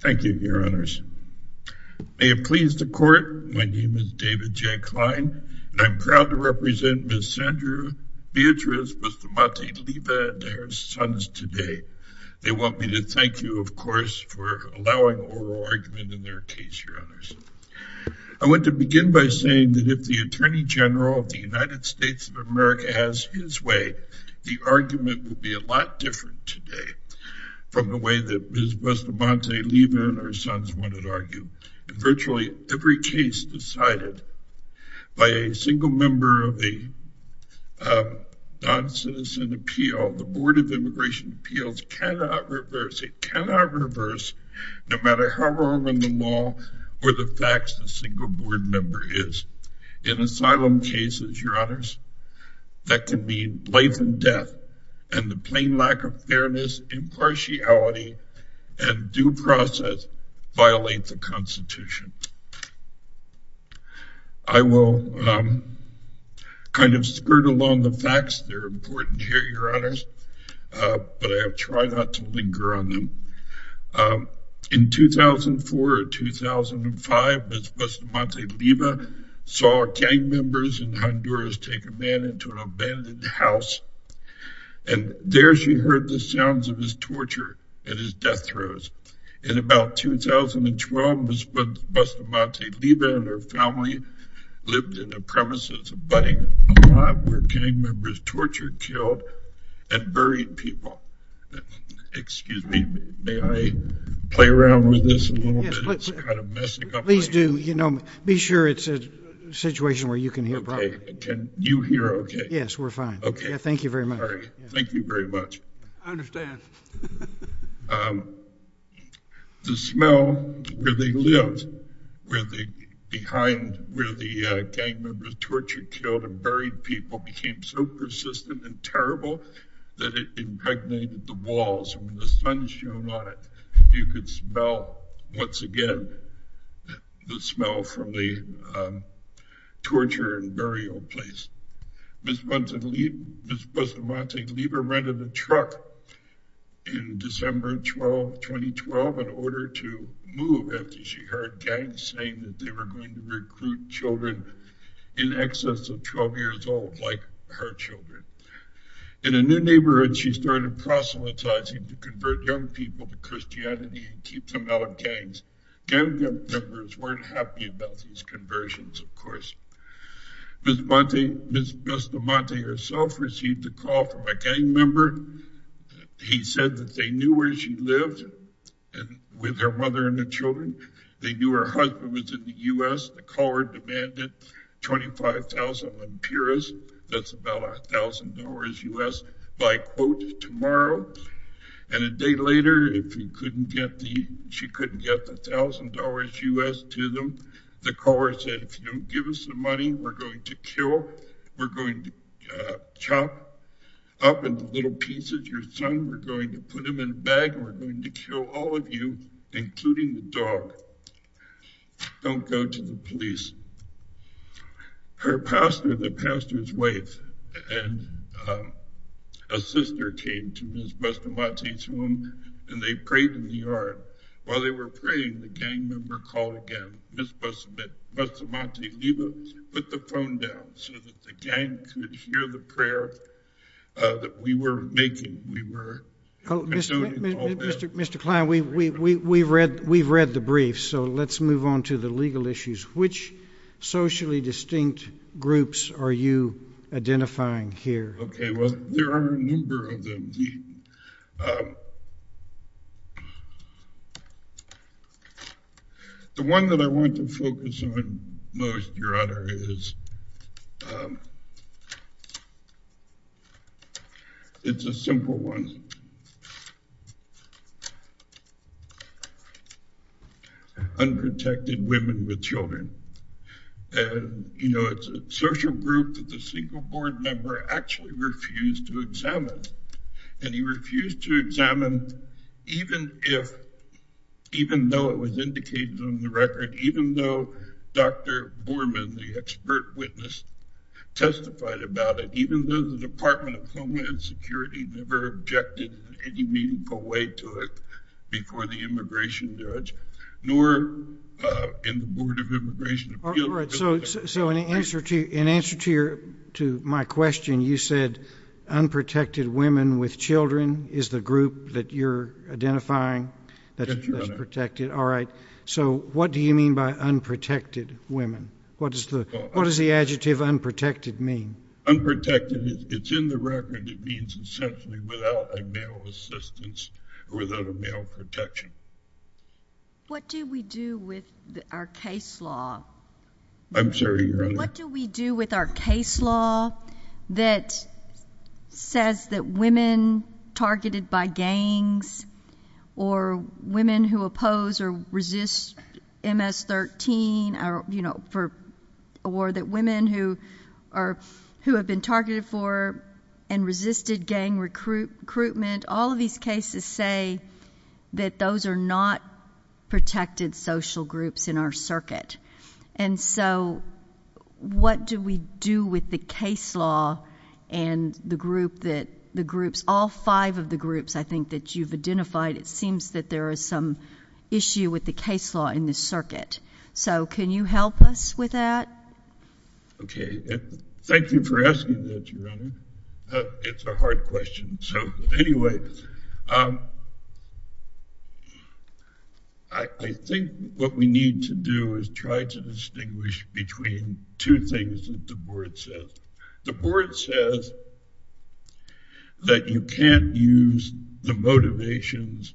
Thank you, your honors. May it please the court, my name is David J. Kline and I'm proud to represent Ms. Sandra Beatriz Bustamante-Leiva and her sons today. They want me to thank you, of course, for allowing oral argument in their case, your honors. I want to begin by saying that if the Attorney General of the United States of America has his way, the argument would be a lot different today from the way that Ms. Bustamante-Leiva and her sons would argue. Virtually every case decided by a single member of a non-citizen appeal, the Board of Immigration Appeals cannot reverse, it cannot reverse, no matter how wrong in the law or the facts a single board member is. In asylum cases, your honors, that can mean life and death, and the plain lack of fairness, impartiality, and due process violate the Constitution. I will kind of skirt along the facts, they're important here, your honors, but I'll try not to linger on them. In 2004 or 2005, Ms. Bustamante-Leiva saw gang members in Honduras take a man into an abandoned house, and there she heard the sounds of his torture and his death throes. In about 2012, Ms. Bustamante-Leiva and her family lived in a premise that's abutting a lot, where gang members tortured, killed, and buried people. Excuse me, may I play around with this a little bit? It's kind of messing up my... Please do, you know, be sure it's a situation where you can hear properly. Okay, can you hear okay? Yes, we're fine. Okay. Thank you very much. Thank you very much. I understand. The smell where they lived, where the gang members tortured, killed, and buried people became so persistent and terrible that it impregnated the walls, and when the sun shone on it, you could smell, once again, the smell from the torture and burial place. Ms. Bustamante-Leiva rented a truck in December 2012 in order to move after she heard gangs saying that they were going to recruit children in excess of 12 years old, like her children. In a new neighborhood, she started proselytizing to convert young people to Christianity and keep them out of gangs. Gang members weren't happy about these conversions, of course. Ms. Bustamante herself received a call from a gang member. He said that they knew where she lived with her mother and the children. They knew her husband was in the U.S. The caller demanded $25,000 on purists. That's about $1,000 U.S. by quote tomorrow, and a day later, she couldn't get the $1,000 U.S. to them. The caller said, if you don't give us the money, we're going to kill, we're going to chop up into little pieces your son, we're going to put him in a bag, and we're going to kill all of you, including the dog. Don't go to the police. Her pastor, the pastor's wife, and a sister came to Ms. Bustamante's room, and they prayed in the yard. While they were praying, the gang member called again. Ms. Bustamante-Leiva put the phone down so that the gang could hear the prayer that we were making. We were condoning all that. Mr. Kline, we've read the briefs, so let's move on to the legal issues. Which socially distinct groups are you identifying here? Okay, well, there are a number of them. The one that I want to focus on most, Your Honor, is, it's a simple one. Unprotected women with children. You know, it's a social group that the single board member actually refused to examine. And he refused to examine even if, even though it was indicated on the record, even though Dr. Borman, the expert witness, testified about it, even though the Department of Homeland Security never objected in any meaningful way to it before the immigration judge, nor in the Board of Immigration Appeals. All right, so in answer to my question, you said unprotected women with children is the group that you're identifying that's protected. All right, so what do you mean by unprotected women? What does the adjective unprotected mean? Unprotected, it's in the record, it means essentially without a male assistance or without a male protection. What do we do with our case law? I'm sorry, Your Honor. What do we do with our case law that says that women targeted by gangs or women who oppose or resist MS-13, or that women who have been targeted for and resisted gang recruitment, all of these cases say that those are not protected social groups in our circuit. And so what do we do with the case law and the group that the groups, all five of the groups I think that you've identified, it seems that there is some issue with the case law in this circuit. So can you help us with that? Okay, thank you for asking that, Your Honor. It's a hard question. So anyway, I think what we need to do is try to distinguish between two things that the board says. The board says that you can't use the motivations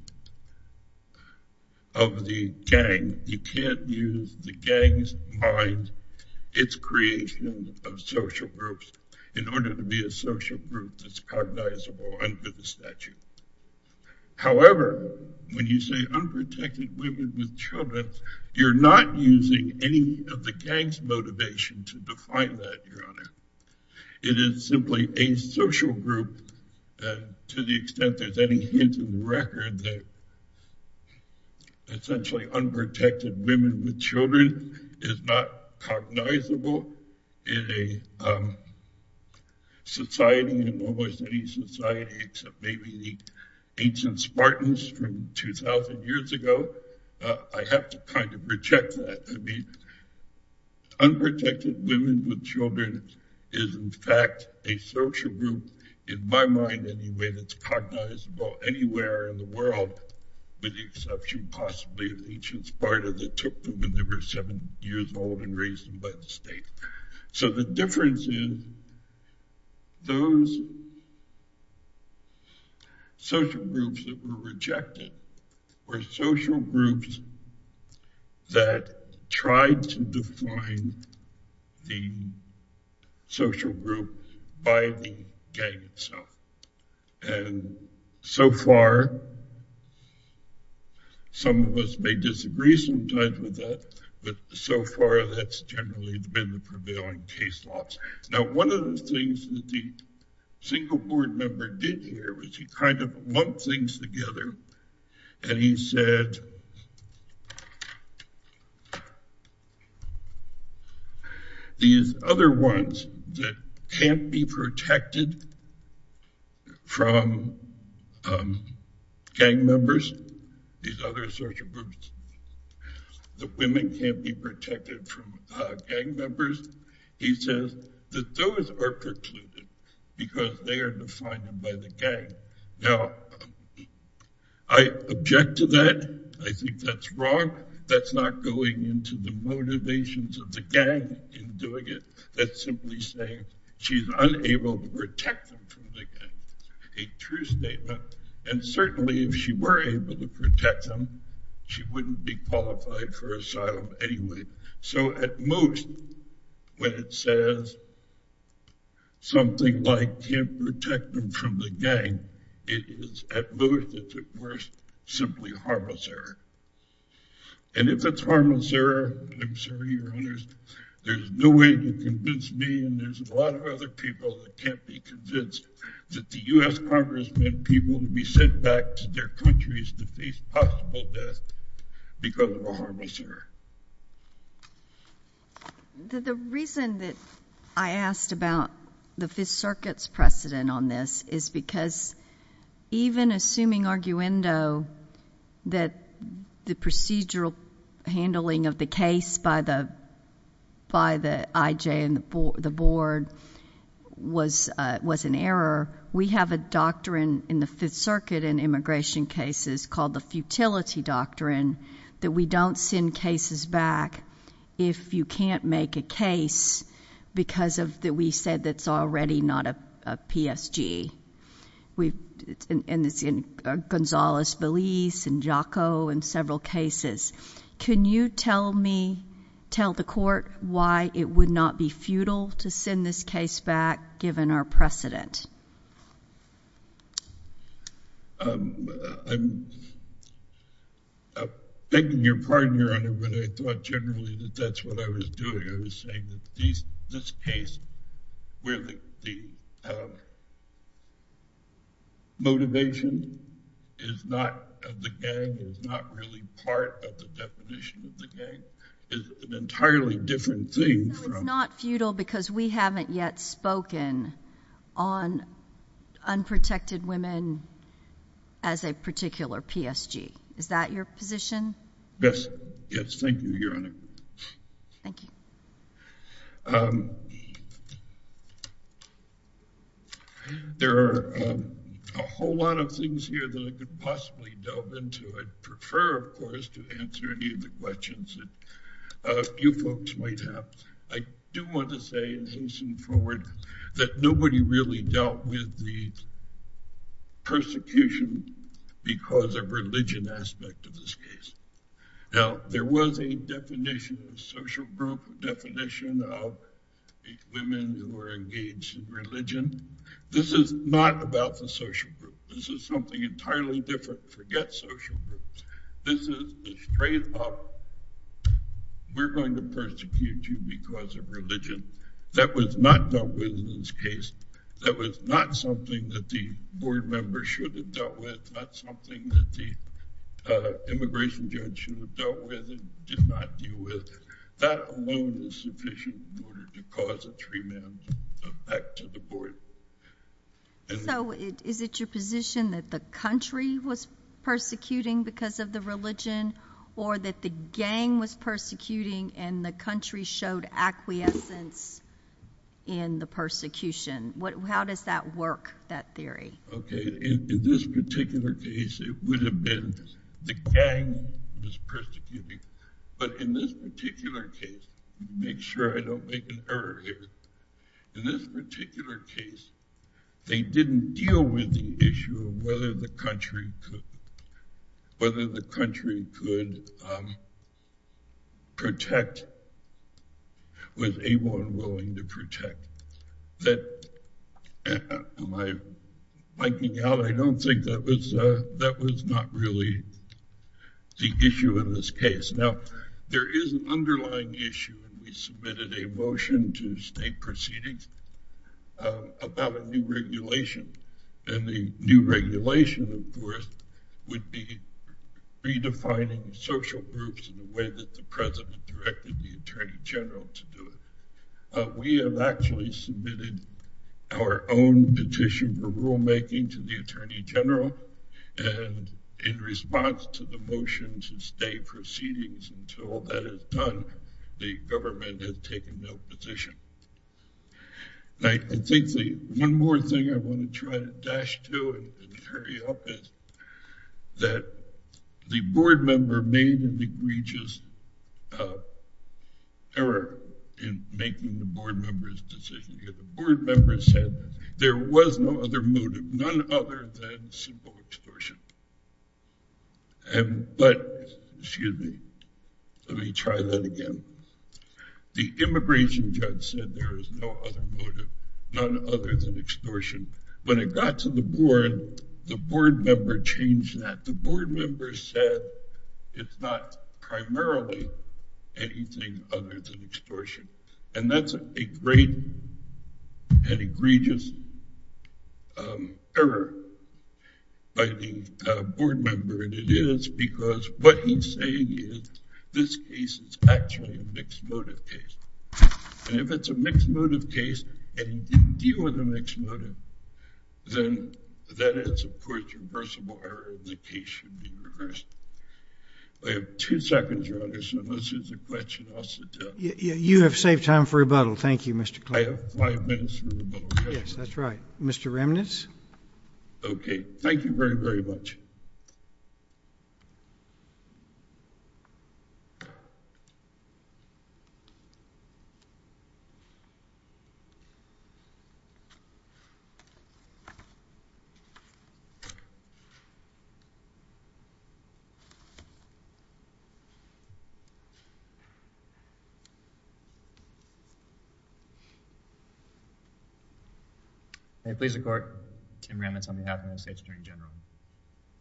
of the gang, you can't use the gang's mind, its creation of social groups in order to be a social group that's cognizable under the statute. However, when you say unprotected women with children, you're not using any of the gang's motivation to define that, Your Honor. It is simply a social group, and to the extent there's any hint of record that essentially unprotected women with children is not cognizable in a society, in almost any society except maybe the ancient Spartans from 2,000 years ago, I have to kind of reject that. I mean, unprotected women with children is in fact a social group in my mind anyway that's cognizable anywhere in the world with the exception possibly of ancient Spartans that took them when they were seven years So the difference is those social groups that were rejected were social groups that tried to define the social group by the gang itself. And so far, some of us may disagree sometimes with that, but so far that's generally been the prevailing case law. Now one of the things that the Singaporean member did here was he kind of lumped things together and he said that these other ones that can't be protected from gang members, these other social groups, that women can't be protected from gang members, he says that those are precluded because they think that's wrong, that's not going into the motivations of the gang in doing it, that's simply saying she's unable to protect them from the gang. A true statement. And certainly if she were able to protect them, she wouldn't be qualified for asylum anyway. So at most, when it says something like can't protect them from the gang, it is at most, if it were worse, simply harmless error. And if it's harmless error, I'm sorry your honors, there's no way to convince me and there's a lot of other people that can't be convinced that the U.S. Congress meant people to be sent back to their countries to face possible death because of a harmless error. The reason that I asked about the Fifth Circuit's precedent on this is because even assuming arguendo that the procedural handling of the case by the IJ and the board was an error, we have a doctrine in the Fifth Circuit in immigration cases called the futility doctrine that we don't send cases back if you can't make a case because we said it's already not a PSG. And it's in Gonzalez-Veliz and Jocko and several cases. Can you tell me, tell the court, why it would not be futile to send this case back given our precedent? I'm begging your pardon, your honor, but I thought generally that that's what I was doing. I was saying that this case, where the motivation is not of the gang, is not really part of the definition of the gang, is an entirely different thing. So it's not futile because we haven't yet spoken on unprotected women as a particular PSG. Is that your position? Yes. Yes, thank you, your honor. Thank you. There are a whole lot of things here that I could possibly delve into. I'd prefer, of course, to answer any of the questions that you folks might have. I do want to say, as we move forward, that nobody really dealt with the persecution because of religion aspect of this case. Now, there was a definition of social group, a definition of women who were engaged in religion. This is not about the social group. This is something entirely different. Forget social groups. This is straight up, we're going to persecute you because of religion. That was not dealt with in this case. That was not something that the board members should have dealt with, not something that the immigration judge should have dealt with and did not deal with. That alone is sufficient in order to cause a three-man effect to the board. So is it your position that the country was persecuting because of the religion or that the gang was persecuting and the country showed acquiescence in the persecution? How does that work, that theory? Okay, in this particular case, it would have been the gang was persecuting. But in this particular case, make sure I don't make an error here, in this particular case, they didn't deal with the issue of whether the country could protect, was able and willing to protect. Am I blanking out? I don't think that was not really the issue in this case. Now, there is an underlying issue and we submitted a motion to state proceedings about a new regulation. And the new regulation, of course, would be redefining social groups in the way that the president directed the attorney general to do it. We have actually submitted our own petition for rulemaking to the attorney general and in response to the motions and state proceedings until that is done, the government has taken no position. I think one more thing I want to try to dash to and hurry up is that the board member made an egregious error in making the board member's decision. The board member said there was no other motive, none other than simple extortion. But, excuse me, let me try that again. The immigration judge said there is no other motive, none other than extortion. When it got to the board, the board member changed that. The board member said it's not primarily anything other than extortion. And that's a great and egregious error by the board member. And it is because what he's saying is this case is actually a mixed motive case. And if it's a mixed motive case and he didn't deal with a mixed motive, then that is, of course, reversible error and the case should be reversed. I have two seconds, Your Honor, so unless there's a question, I'll sit down. You have saved time for rebuttal. Thank you, Mr. Clark. I have five minutes for rebuttal. Yes, that's right. Mr. Remnitz. Okay. Thank you very, very much. May it please the Court, I'm Tim Remnitz on behalf of the United States Attorney General.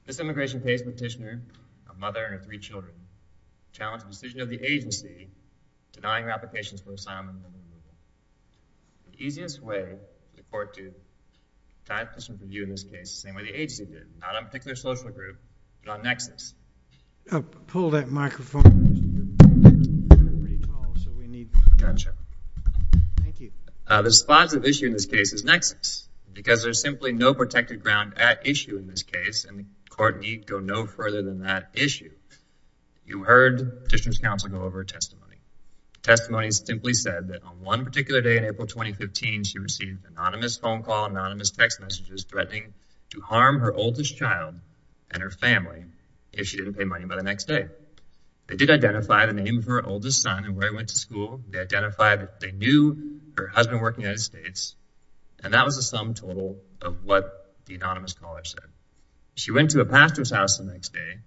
This immigration case petitioner, a mother and her three children, challenged the decision of the agency denying her applications for assignment. The easiest way for the court to deny a petition for review in this case is the same way the agency did, not on a particular social group, but on nexus. Pull that microphone. Gotcha. Thank you. The spots of issue in this case is nexus, because there's simply no protected ground at issue in this case, and the court need go no further than that issue. You heard district counsel go over testimony. Testimony simply said that on one particular day in April 2015, she received anonymous phone calls, anonymous text messages, threatening to harm her oldest child and her family if she didn't pay money by the next day. They did identify the name of her oldest son and where he went to school. They identified that they knew her husband worked in the United States, and that was the sum total of what the anonymous caller said. She went to a pastor's house the next day,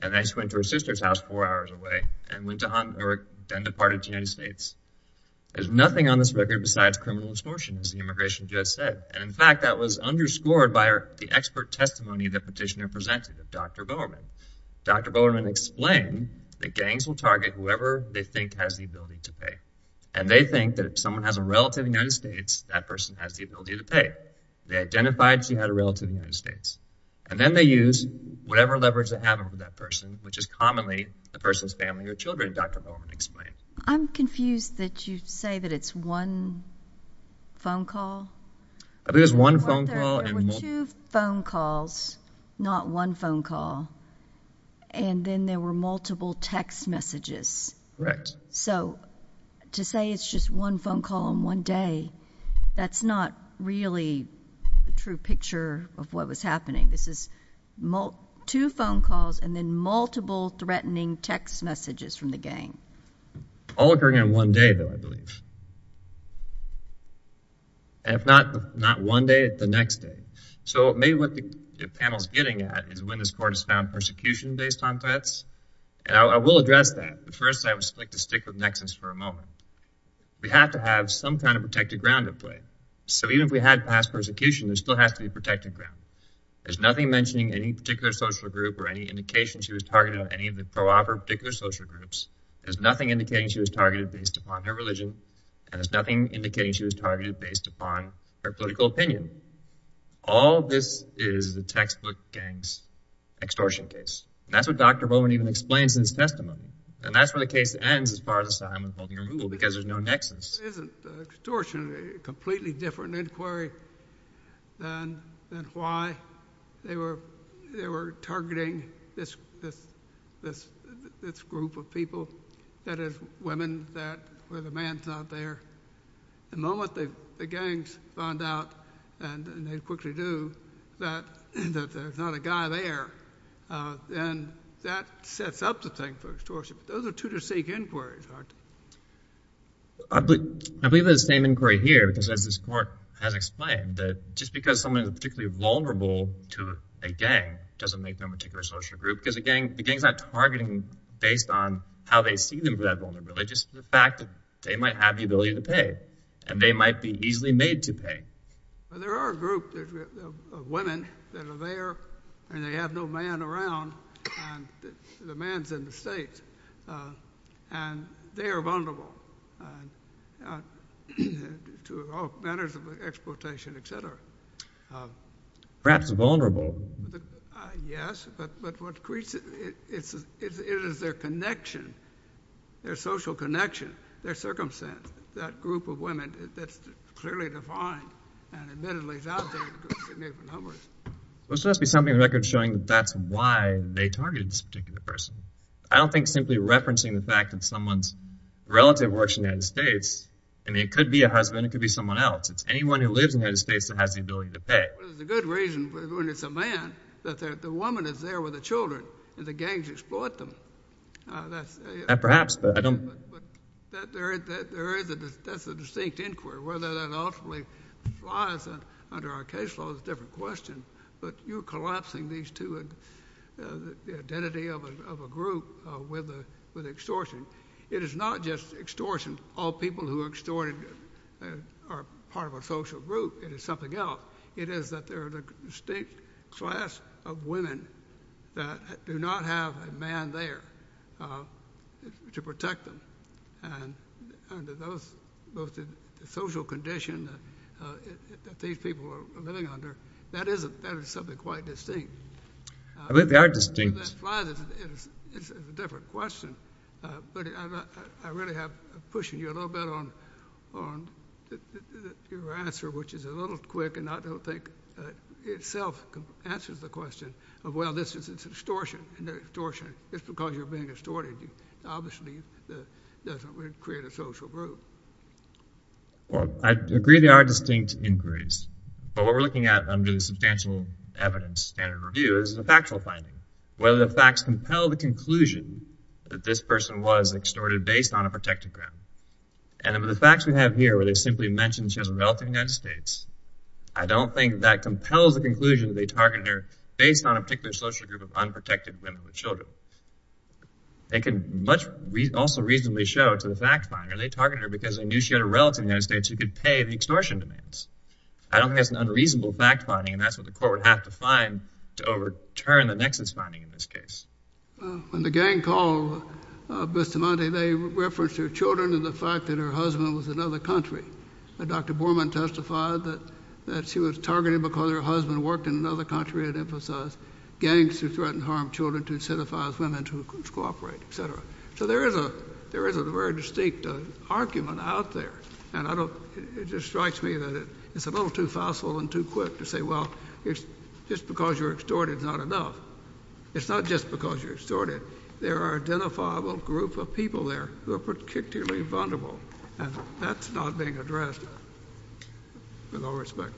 and then she went to her sister's house four hours away, and then departed to the United States. There's nothing on this record besides criminal extortion, as the immigration judge said, and, in fact, that was underscored by the expert testimony the petitioner presented of Dr. Bowerman. Dr. Bowerman explained that gangs will target whoever they think has the ability to pay, and they think that if someone has a relative in the United States, that person has the ability to pay. They identified she had a relative in the United States, and then they use whatever leverage they have over that person, which is commonly the person's family or children, Dr. Bowerman explained. I'm confused that you say that it's one phone call. I believe it's one phone call. There were two phone calls, not one phone call, and then there were multiple text messages. Correct. So to say it's just one phone call in one day, that's not really the true picture of what was happening. This is two phone calls and then multiple threatening text messages from the gang. All occurring in one day, though, I believe. And if not one day, the next day. So maybe what the panel is getting at is when this court has found persecution based on threats, and I will address that. But first I would like to stick with Nexus for a moment. We have to have some kind of protected ground at play. So even if we had past persecution, there still has to be protected ground. There's nothing mentioning any particular social group or any indication she was targeted on any of the pro-op or particular social groups. There's nothing indicating she was targeted based upon her religion, and there's nothing indicating she was targeted based upon her political opinion. All this is is a textbook gang extortion case. And that's what Dr. Bowman even explains in his testimony. And that's where the case ends as far as asylum and holding removal, because there's no Nexus. Isn't extortion a completely different inquiry than why they were targeting this group of people? That is, women where the man's not there. The moment the gangs find out, and they quickly do, that there's not a guy there, then that sets up the thing for extortion. Those are two distinct inquiries, aren't they? I believe it's the same inquiry here, because as this court has explained, that just because someone is particularly vulnerable to a gang doesn't make them a particular social group, because the gang is not targeting based on how they see them as vulnerable. It's just the fact that they might have the ability to pay, and they might be easily made to pay. There are a group of women that are there, and they have no man around, and the man's in the States. And they are vulnerable to all manners of exploitation, et cetera. Perhaps vulnerable. Yes, but what creates it is their connection, their social connection, their circumstance. That group of women that's clearly defined, and admittedly is out there in significant numbers. This must be something in the record showing that that's why they targeted this particular person. I don't think simply referencing the fact that someone's relative works in the United States, I mean, it could be a husband, it could be someone else. It's anyone who lives in the United States that has the ability to pay. The good reason, when it's a man, that the woman is there with the children, and the gangs exploit them. Perhaps, but I don't. That's a distinct inquiry. Whether that ultimately lies under our case law is a different question, but you're collapsing these two identities of a group with extortion. It is not just extortion, all people who are extorted are part of a social group. It is something else. It is that there are a distinct class of women that do not have a man there to protect them. Under both the social condition that these people are living under, that is something quite distinct. I think they are distinct. It's a different question, but I really am pushing you a little bit on your answer, which is a little quick and I don't think itself answers the question of, well, this is extortion, and extortion is because you're being extorted. Obviously, it doesn't create a social group. I agree they are distinct inquiries, but what we're looking at under the substantial evidence standard review is a factual finding. Whether the facts compel the conclusion that this person was extorted based on a protected ground, and with the facts we have here where they simply mention she has a relative in the United States, I don't think that compels the conclusion that they targeted her based on a particular social group of unprotected women with children. It can also reasonably show to the fact finder they targeted her because they knew she had a relative in the United States who could pay the extortion demands. I don't think that's an unreasonable fact finding, and that's what the court would have to find to overturn the nexus finding in this case. When the gang called Bustamante, they referenced her children and the fact that her husband was in another country. Dr. Borman testified that she was targeted because her husband worked in another country and emphasized gangs who threatened to harm children to incentivize women to cooperate, et cetera. So there is a very distinct argument out there, and it just strikes me that it's a little too facile and too quick to say, well, just because you're extorted is not enough. It's not just because you're extorted. There are an identifiable group of people there who are particularly vulnerable, and that's not being addressed with all respect.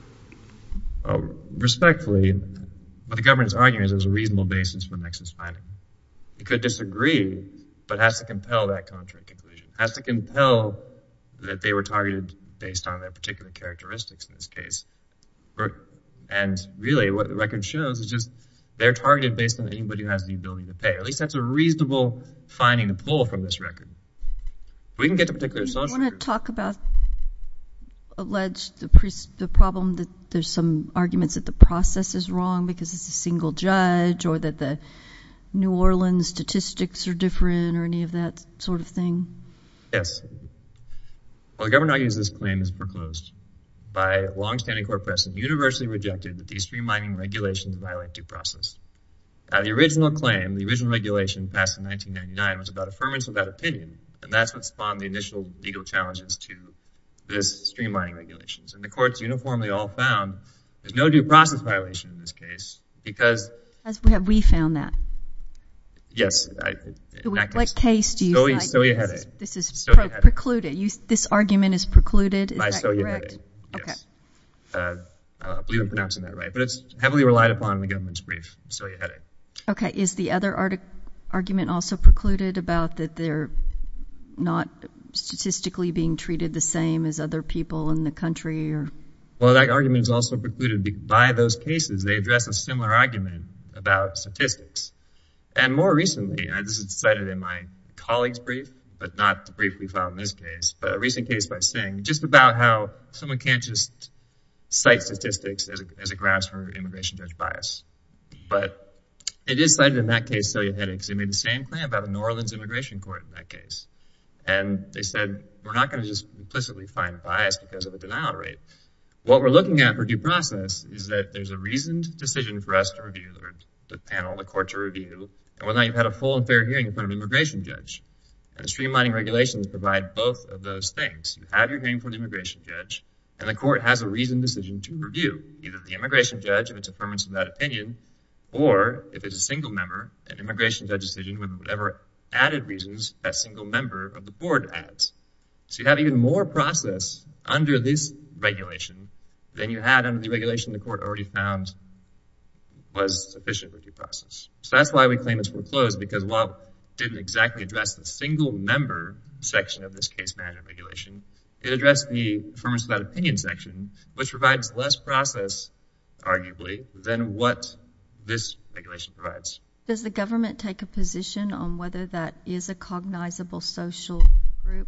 Respectfully, what the government is arguing is there's a reasonable basis for the nexus finding. You could disagree, but it has to compel that contract conclusion. It has to compel that they were targeted based on their particular characteristics in this case. And really what the record shows is just they're targeted based on anybody who has the ability to pay. At least that's a reasonable finding to pull from this record. If we can get to particular social groups. Do you want to talk about alleged the problem that there's some arguments that the process is wrong because it's a single judge or that the New Orleans statistics are different or any of that sort of thing? Yes. Well, the government argues this claim is preclosed by longstanding court precedent universally rejected that these streamlining regulations violate due process. Now, the original claim, the original regulation passed in 1999, was about affirmance of that opinion, and that's what spawned the initial legal challenges to this streamlining regulations. And the courts uniformly all found there's no due process violation in this case because. Have we found that? Yes. What case do you cite? This is precluded. This argument is precluded. Is that correct? Yes. I believe I'm pronouncing that right. But it's heavily relied upon in the government's brief. Okay. Is the other argument also precluded about that they're not statistically being treated the same as other people in the country? Well, that argument is also precluded by those cases. They address a similar argument about statistics. And more recently, and this is cited in my colleague's brief, but not the brief we filed in this case, but a recent case by Singh just about how someone can't just cite statistics as a grassroots immigration judge bias. But it is cited in that case, Celia Hennig, and they said we're not going to just implicitly find bias because of a denial rate. What we're looking at for due process is that there's a reasoned decision for us to review, the panel, the court to review, and whether or not you've had a full and fair hearing in front of an immigration judge. And the streamlining regulations provide both of those things. You have your hearing from the immigration judge, and the court has a reasoned decision to review, either the immigration judge and its affirmance of that opinion, or if it's a single member, an immigration judge decision with whatever added reasons that single member of the board adds. So you have even more process under this regulation than you had under the regulation the court already found was sufficient with due process. So that's why we claim it's foreclosed, because while it didn't exactly address the single member section of this case management regulation, it addressed the affirmance of that opinion section, which provides less process, arguably, than what this regulation provides. Does the government take a position on whether that is a cognizable social group?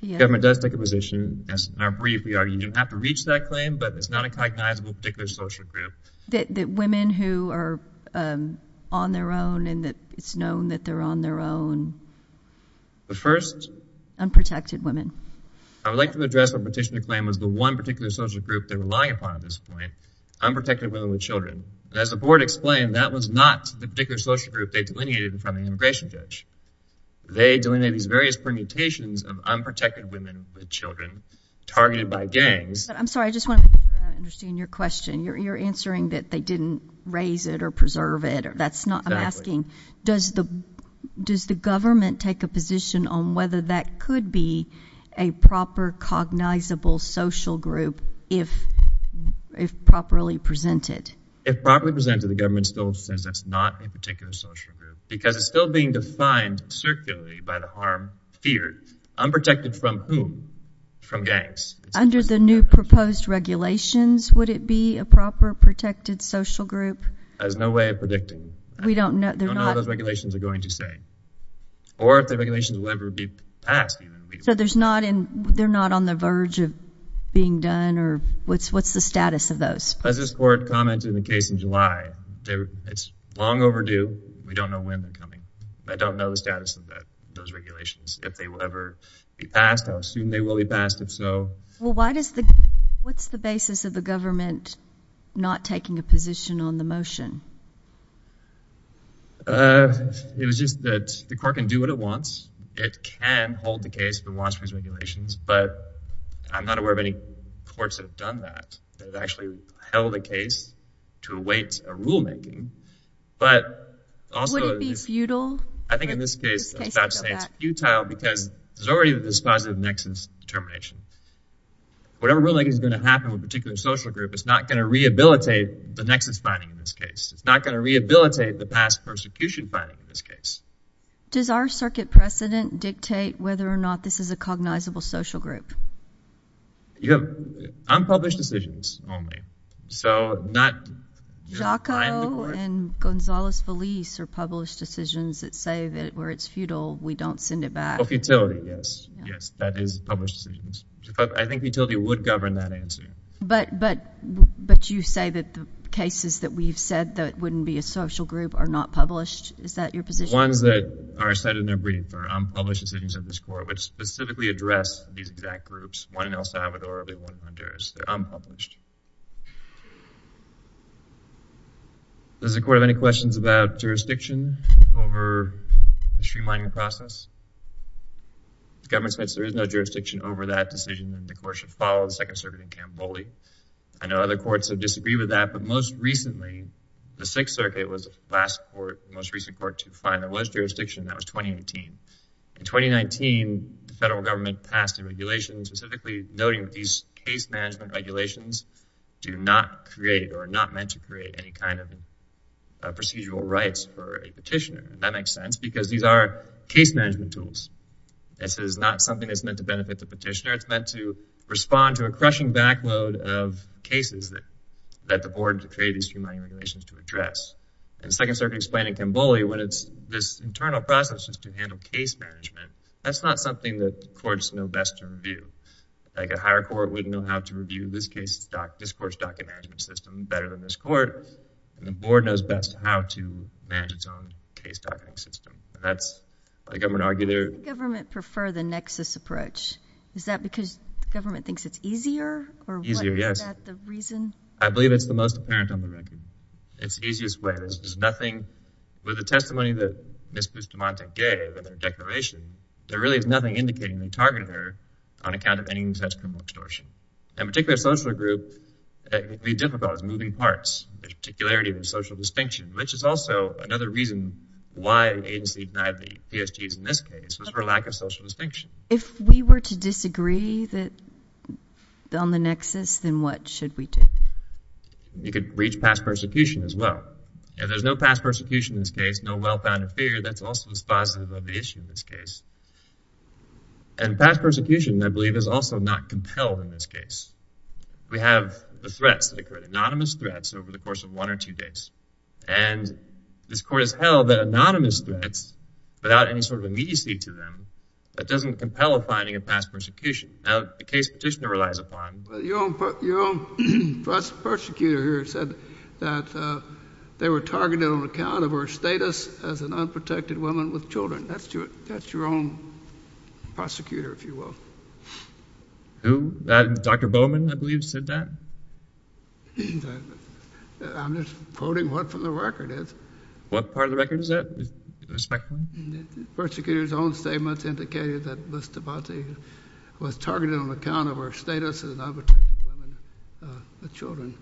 The government does take a position, yes. In our brief, we argue you don't have to reach that claim, but it's not a cognizable particular social group. That women who are on their own and that it's known that they're on their own. The first... Unprotected women. I would like to address what Petitioner claimed was the one particular social group they're relying upon at this point, unprotected women with children. As the board explained, that was not the particular social group they delineated in front of the immigration judge. They delineated these various permutations of unprotected women with children targeted by gangs. I'm sorry, I just want to understand your question. You're answering that they didn't raise it or preserve it. That's not what I'm asking. Does the government take a position on whether that could be a proper cognizable social group if properly presented? If properly presented, the government still says that's not a particular social group because it's still being defined circularly by the harm feared. Unprotected from whom? From gangs. Under the new proposed regulations, would it be a proper protected social group? There's no way of predicting. We don't know. We don't know what those regulations are going to say. Or if the regulations will ever be passed. So they're not on the verge of being done, or what's the status of those? As this court commented in the case in July, it's long overdue. We don't know when they're coming. I don't know the status of those regulations, if they will ever be passed. I assume they will be passed if so. Well, what's the basis of the government not taking a position on the motion? It was just that the court can do what it wants. It can hold the case if it wants to use regulations. But I'm not aware of any courts that have done that, that have actually held a case to await a rulemaking. But also— Would it be futile? I think in this case it's futile because there's already this positive nexus determination. Whatever rulemaking is going to happen with a particular social group, it's not going to rehabilitate the nexus finding in this case. It's not going to rehabilitate the past persecution finding in this case. Does our circuit precedent dictate whether or not this is a cognizable social group? Unpublished decisions only. So not— Giacco and Gonzales-Felice are published decisions that say that where it's futile, we don't send it back. Oh, futility, yes. Yes, that is published decisions. I think futility would govern that answer. But you say that the cases that we've said that wouldn't be a social group are not published? Is that your position? Ones that are cited in their brief are unpublished decisions of this Court, which specifically address these exact groups, one in El Salvador and one in Honduras. They're unpublished. Does the Court have any questions about jurisdiction over the streamlining process? The government says there is no jurisdiction over that decision and the Court should follow the Second Circuit in Cambodia. I know other courts have disagreed with that, but most recently, the Sixth Circuit was the last court, the most recent court to define there was jurisdiction. That was 2018. In 2019, the federal government passed a regulation specifically noting that these case management regulations do not create or are not meant to create any kind of procedural rights for a petitioner. That makes sense because these are case management tools. This is not something that's meant to benefit the petitioner. It's meant to respond to a crushing backload of cases that the board created these streamlining regulations to address. And the Second Circuit explained in Cambodia when it's this internal process just to handle case management, that's not something that courts know best to review. Like a higher court wouldn't know how to review this court's docket management system better than this court, and the board knows best how to manage its own case docketing system. That's why the government argued there. Why does the government prefer the nexus approach? Is that because the government thinks it's easier? Easier, yes. Is that the reason? I believe it's the most apparent on the record. It's the easiest way. There's nothing with the testimony that Ms. Bustamante gave in her declaration. There really is nothing indicating they targeted her on account of any and such criminal extortion. In a particular social group, it would be difficult as moving parts, the particularity of the social distinction, which is also another reason why the agency denied the PSGs in this case was for lack of social distinction. If we were to disagree on the nexus, then what should we do? You could reach past persecution as well. If there's no past persecution in this case, no well-founded fear, that's also dispositive of the issue in this case. And past persecution, I believe, is also not compelled in this case. We have the threats that occurred, anonymous threats over the course of one or two days. And this court has held that anonymous threats without any sort of immediacy to them, that doesn't compel a finding of past persecution. Now, the case petitioner relies upon. Your own prosecutor here said that they were targeted on account of her status as an unprotected woman with children. That's your own prosecutor, if you will. Who? Dr. Bowman, I believe, said that. I'm just quoting what from the record is. What part of the record is that, respectfully? The prosecutor's own statements indicated that Ms. Stavanti was targeted on account of her status as an unprotected woman with children.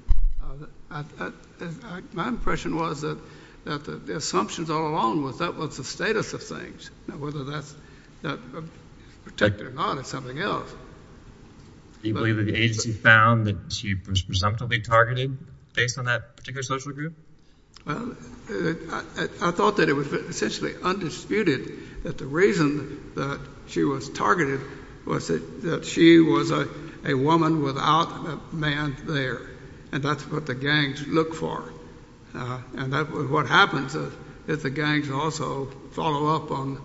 My impression was that the assumptions all along was that was the status of things, whether that's protected or not is something else. Do you believe that the agency found that she was presumptively targeted based on that particular social group? Well, I thought that it was essentially undisputed that the reason that she was targeted was that she was a woman without a man there, and that's what the gangs look for. And what happens is the gangs also follow up on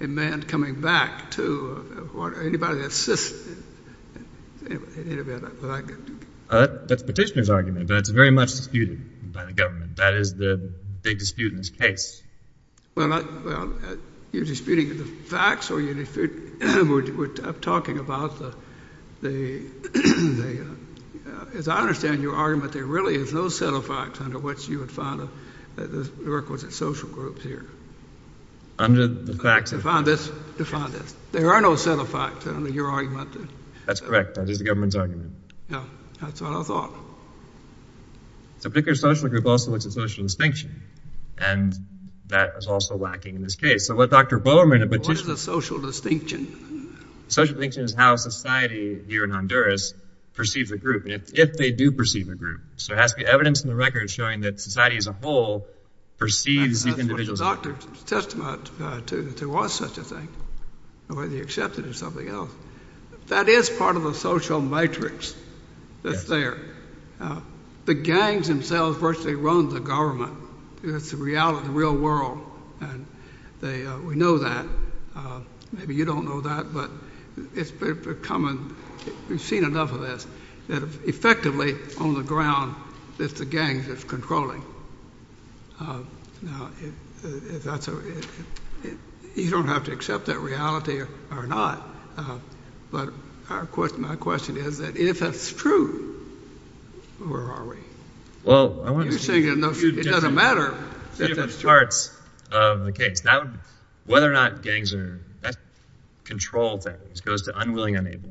a man coming back to anybody that assists. That's the petitioner's argument, but it's very much disputed by the government. That is the big dispute in this case. Well, you're disputing the facts or you're talking about the – as I understand your argument, there really is no set of facts under which you would find the requisite social groups here. Under the facts – Define this. There are no set of facts under your argument. That's correct. That is the government's argument. Yeah, that's what I thought. It's a particular social group also that's a social distinction, and that is also lacking in this case. So what Dr. Bowman in the petition – What is a social distinction? A social distinction is how society here in Honduras perceives a group, and if they do perceive a group. So there has to be evidence in the record showing that society as a whole perceives these individuals – It's a doctor's testament to that there was such a thing, whether you accept it or something else. That is part of the social matrix that's there. The gangs themselves virtually run the government. It's the reality of the real world, and we know that. Maybe you don't know that, but it's becoming – we've seen enough of this – that effectively on the ground, it's the gangs that's controlling. Now, you don't have to accept that reality or not, but my question is that if that's true, where are we? Well, I want to – It doesn't matter if that's true. There are different parts of the case. Whether or not gangs are – that's a control thing. It goes to unwilling, unable.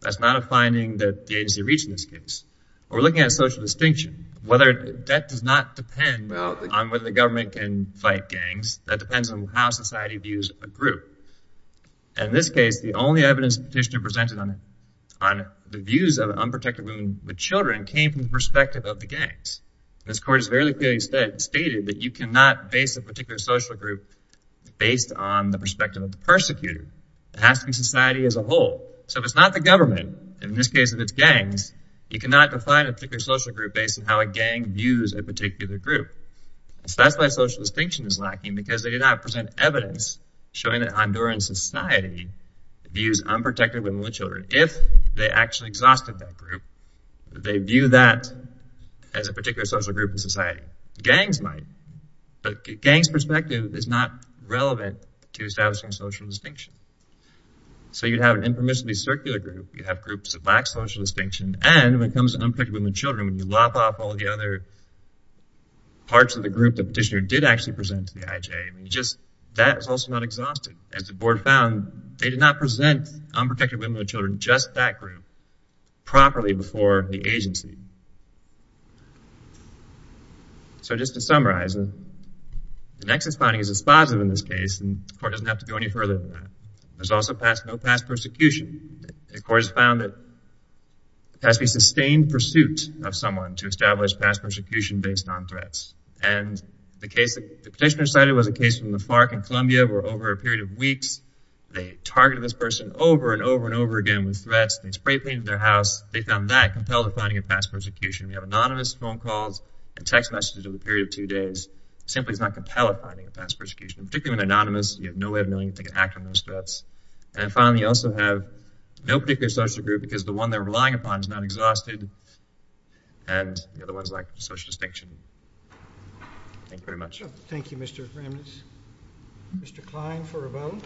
That's not a finding that the agency reached in this case. We're looking at social distinction. That does not depend on whether the government can fight gangs. That depends on how society views a group. In this case, the only evidence the petitioner presented on the views of unprotected women with children came from the perspective of the gangs. This court has very clearly stated that you cannot base a particular social group based on the perspective of the persecutor. It has to be society as a whole. So if it's not the government, and in this case if it's gangs, you cannot define a particular social group based on how a gang views a particular group. So that's why social distinction is lacking because they did not present evidence showing that Honduran society views unprotected women with children. If they actually exhausted that group, they view that as a particular social group in society. Gangs might, but a gang's perspective is not relevant to establishing social distinction. So you'd have an informationally circular group. You'd have groups that lack social distinction. And when it comes to unprotected women with children, when you lop off all the other parts of the group the petitioner did actually present to the IJ, that is also not exhausted. As the board found, they did not present unprotected women with children, just that group, properly before the agency. So just to summarize, the Nexus finding is dispositive in this case, and the court doesn't have to go any further than that. There's also no past persecution. The court has found that there has to be sustained pursuit of someone to establish past persecution based on threats. And the case the petitioner cited was a case from the FARC in Columbia where over a period of weeks they targeted this person over and over and over again with threats. They spray painted their house. They found that compelled to finding a past persecution. We have anonymous phone calls and text messages over a period of two days. It simply does not compel a finding of past persecution. Particularly when they're anonymous, you have no way of knowing if they can act on those threats. And finally, you also have no particular social group because the one they're relying upon is not exhausted, and the other one is lacking social distinction. Thank you very much. Thank you, Mr. Ramnitz. Mr. Klein for a vote.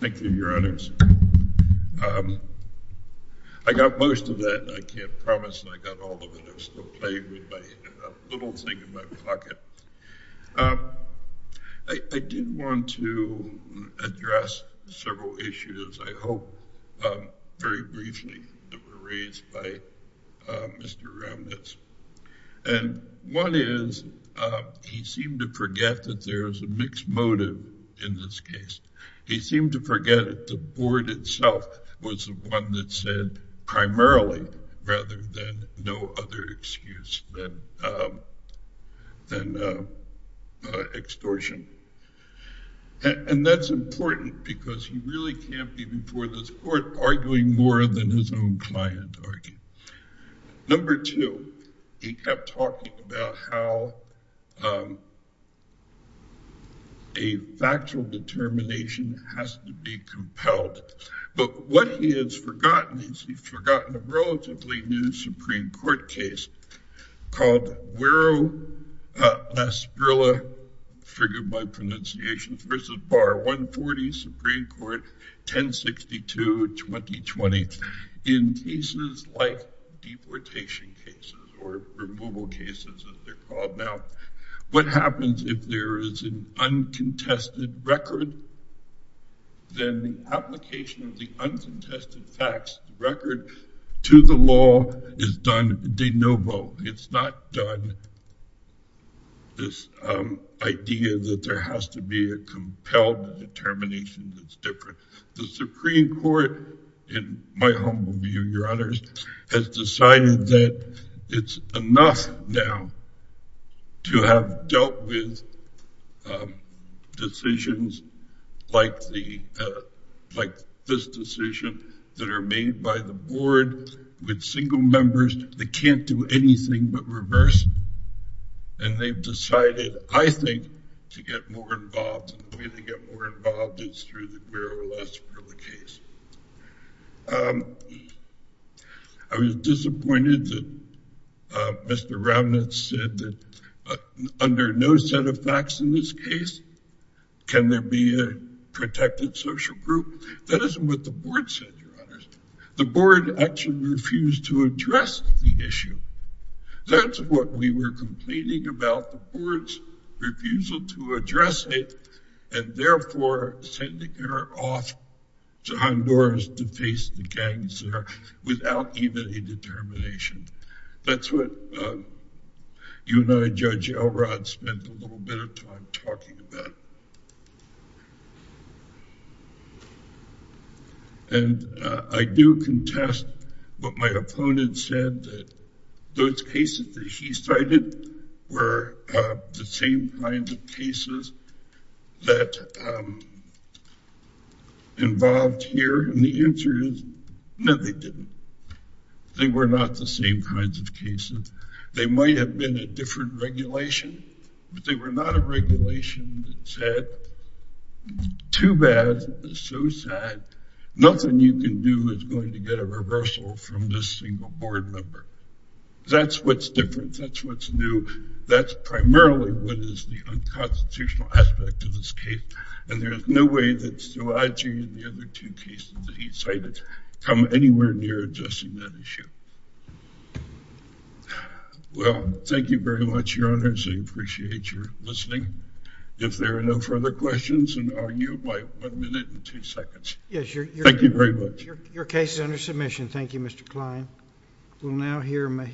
Thank you, Your Honors. I got most of that. I can't promise I got all of it. I've still got a little thing in my pocket. I do want to address several issues, I hope, very briefly that were raised by Mr. Ramnitz. And one is he seemed to forget that there is a mixed motive in this case. He seemed to forget that the board itself was the one that said primarily rather than no other excuse than extortion. And that's important because he really can't be before this court arguing more than his own client. Number two, he kept talking about how a factual determination has to be compelled. But what he has forgotten is he's forgotten a relatively new Supreme Court case called Wiro-Lasgrilla, figured by pronunciation, versus Bar 140, Supreme Court 1062-2020, in cases like deportation cases or removal cases, as they're called now. What happens if there is an uncontested record? Then the application of the uncontested facts record to the law is done de novo. It's not done this idea that there has to be a compelled determination that's different. The Supreme Court, in my humble view, your honors, has decided that it's enough now to have dealt with decisions like this decision that are made by the board with single members that can't do anything but reverse. And they've decided, I think, to get more involved. The way to get more involved is through the Wiro-Lasgrilla case. I was disappointed that Mr. Ramnitz said that under no set of facts in this case can there be a protected social group. That isn't what the board said, your honors. The board actually refused to address the issue. That's what we were complaining about, the board's refusal to address it, and therefore sending her off to Honduras to face the gangs there without even a determination. That's what you and I, Judge Elrod, spent a little bit of time talking about. And I do contest what my opponent said, that those cases that he cited were the same kinds of cases that involved here. And the answer is, no, they didn't. They were not the same kinds of cases. They might have been a different regulation, but they were not a regulation that said, too bad, so sad, nothing you can do is going to get a reversal from this single board member. That's what's different. That's what's new. That's primarily what is the unconstitutional aspect of this case. And there's no way that Szilagyi and the other two cases that he cited come anywhere near addressing that issue. Well, thank you very much, your honors. I appreciate your listening. If there are no further questions, I'll argue by one minute and two seconds. Thank you very much. Your case is under submission. Thank you, Mr. Klein. We'll now hear Mahi.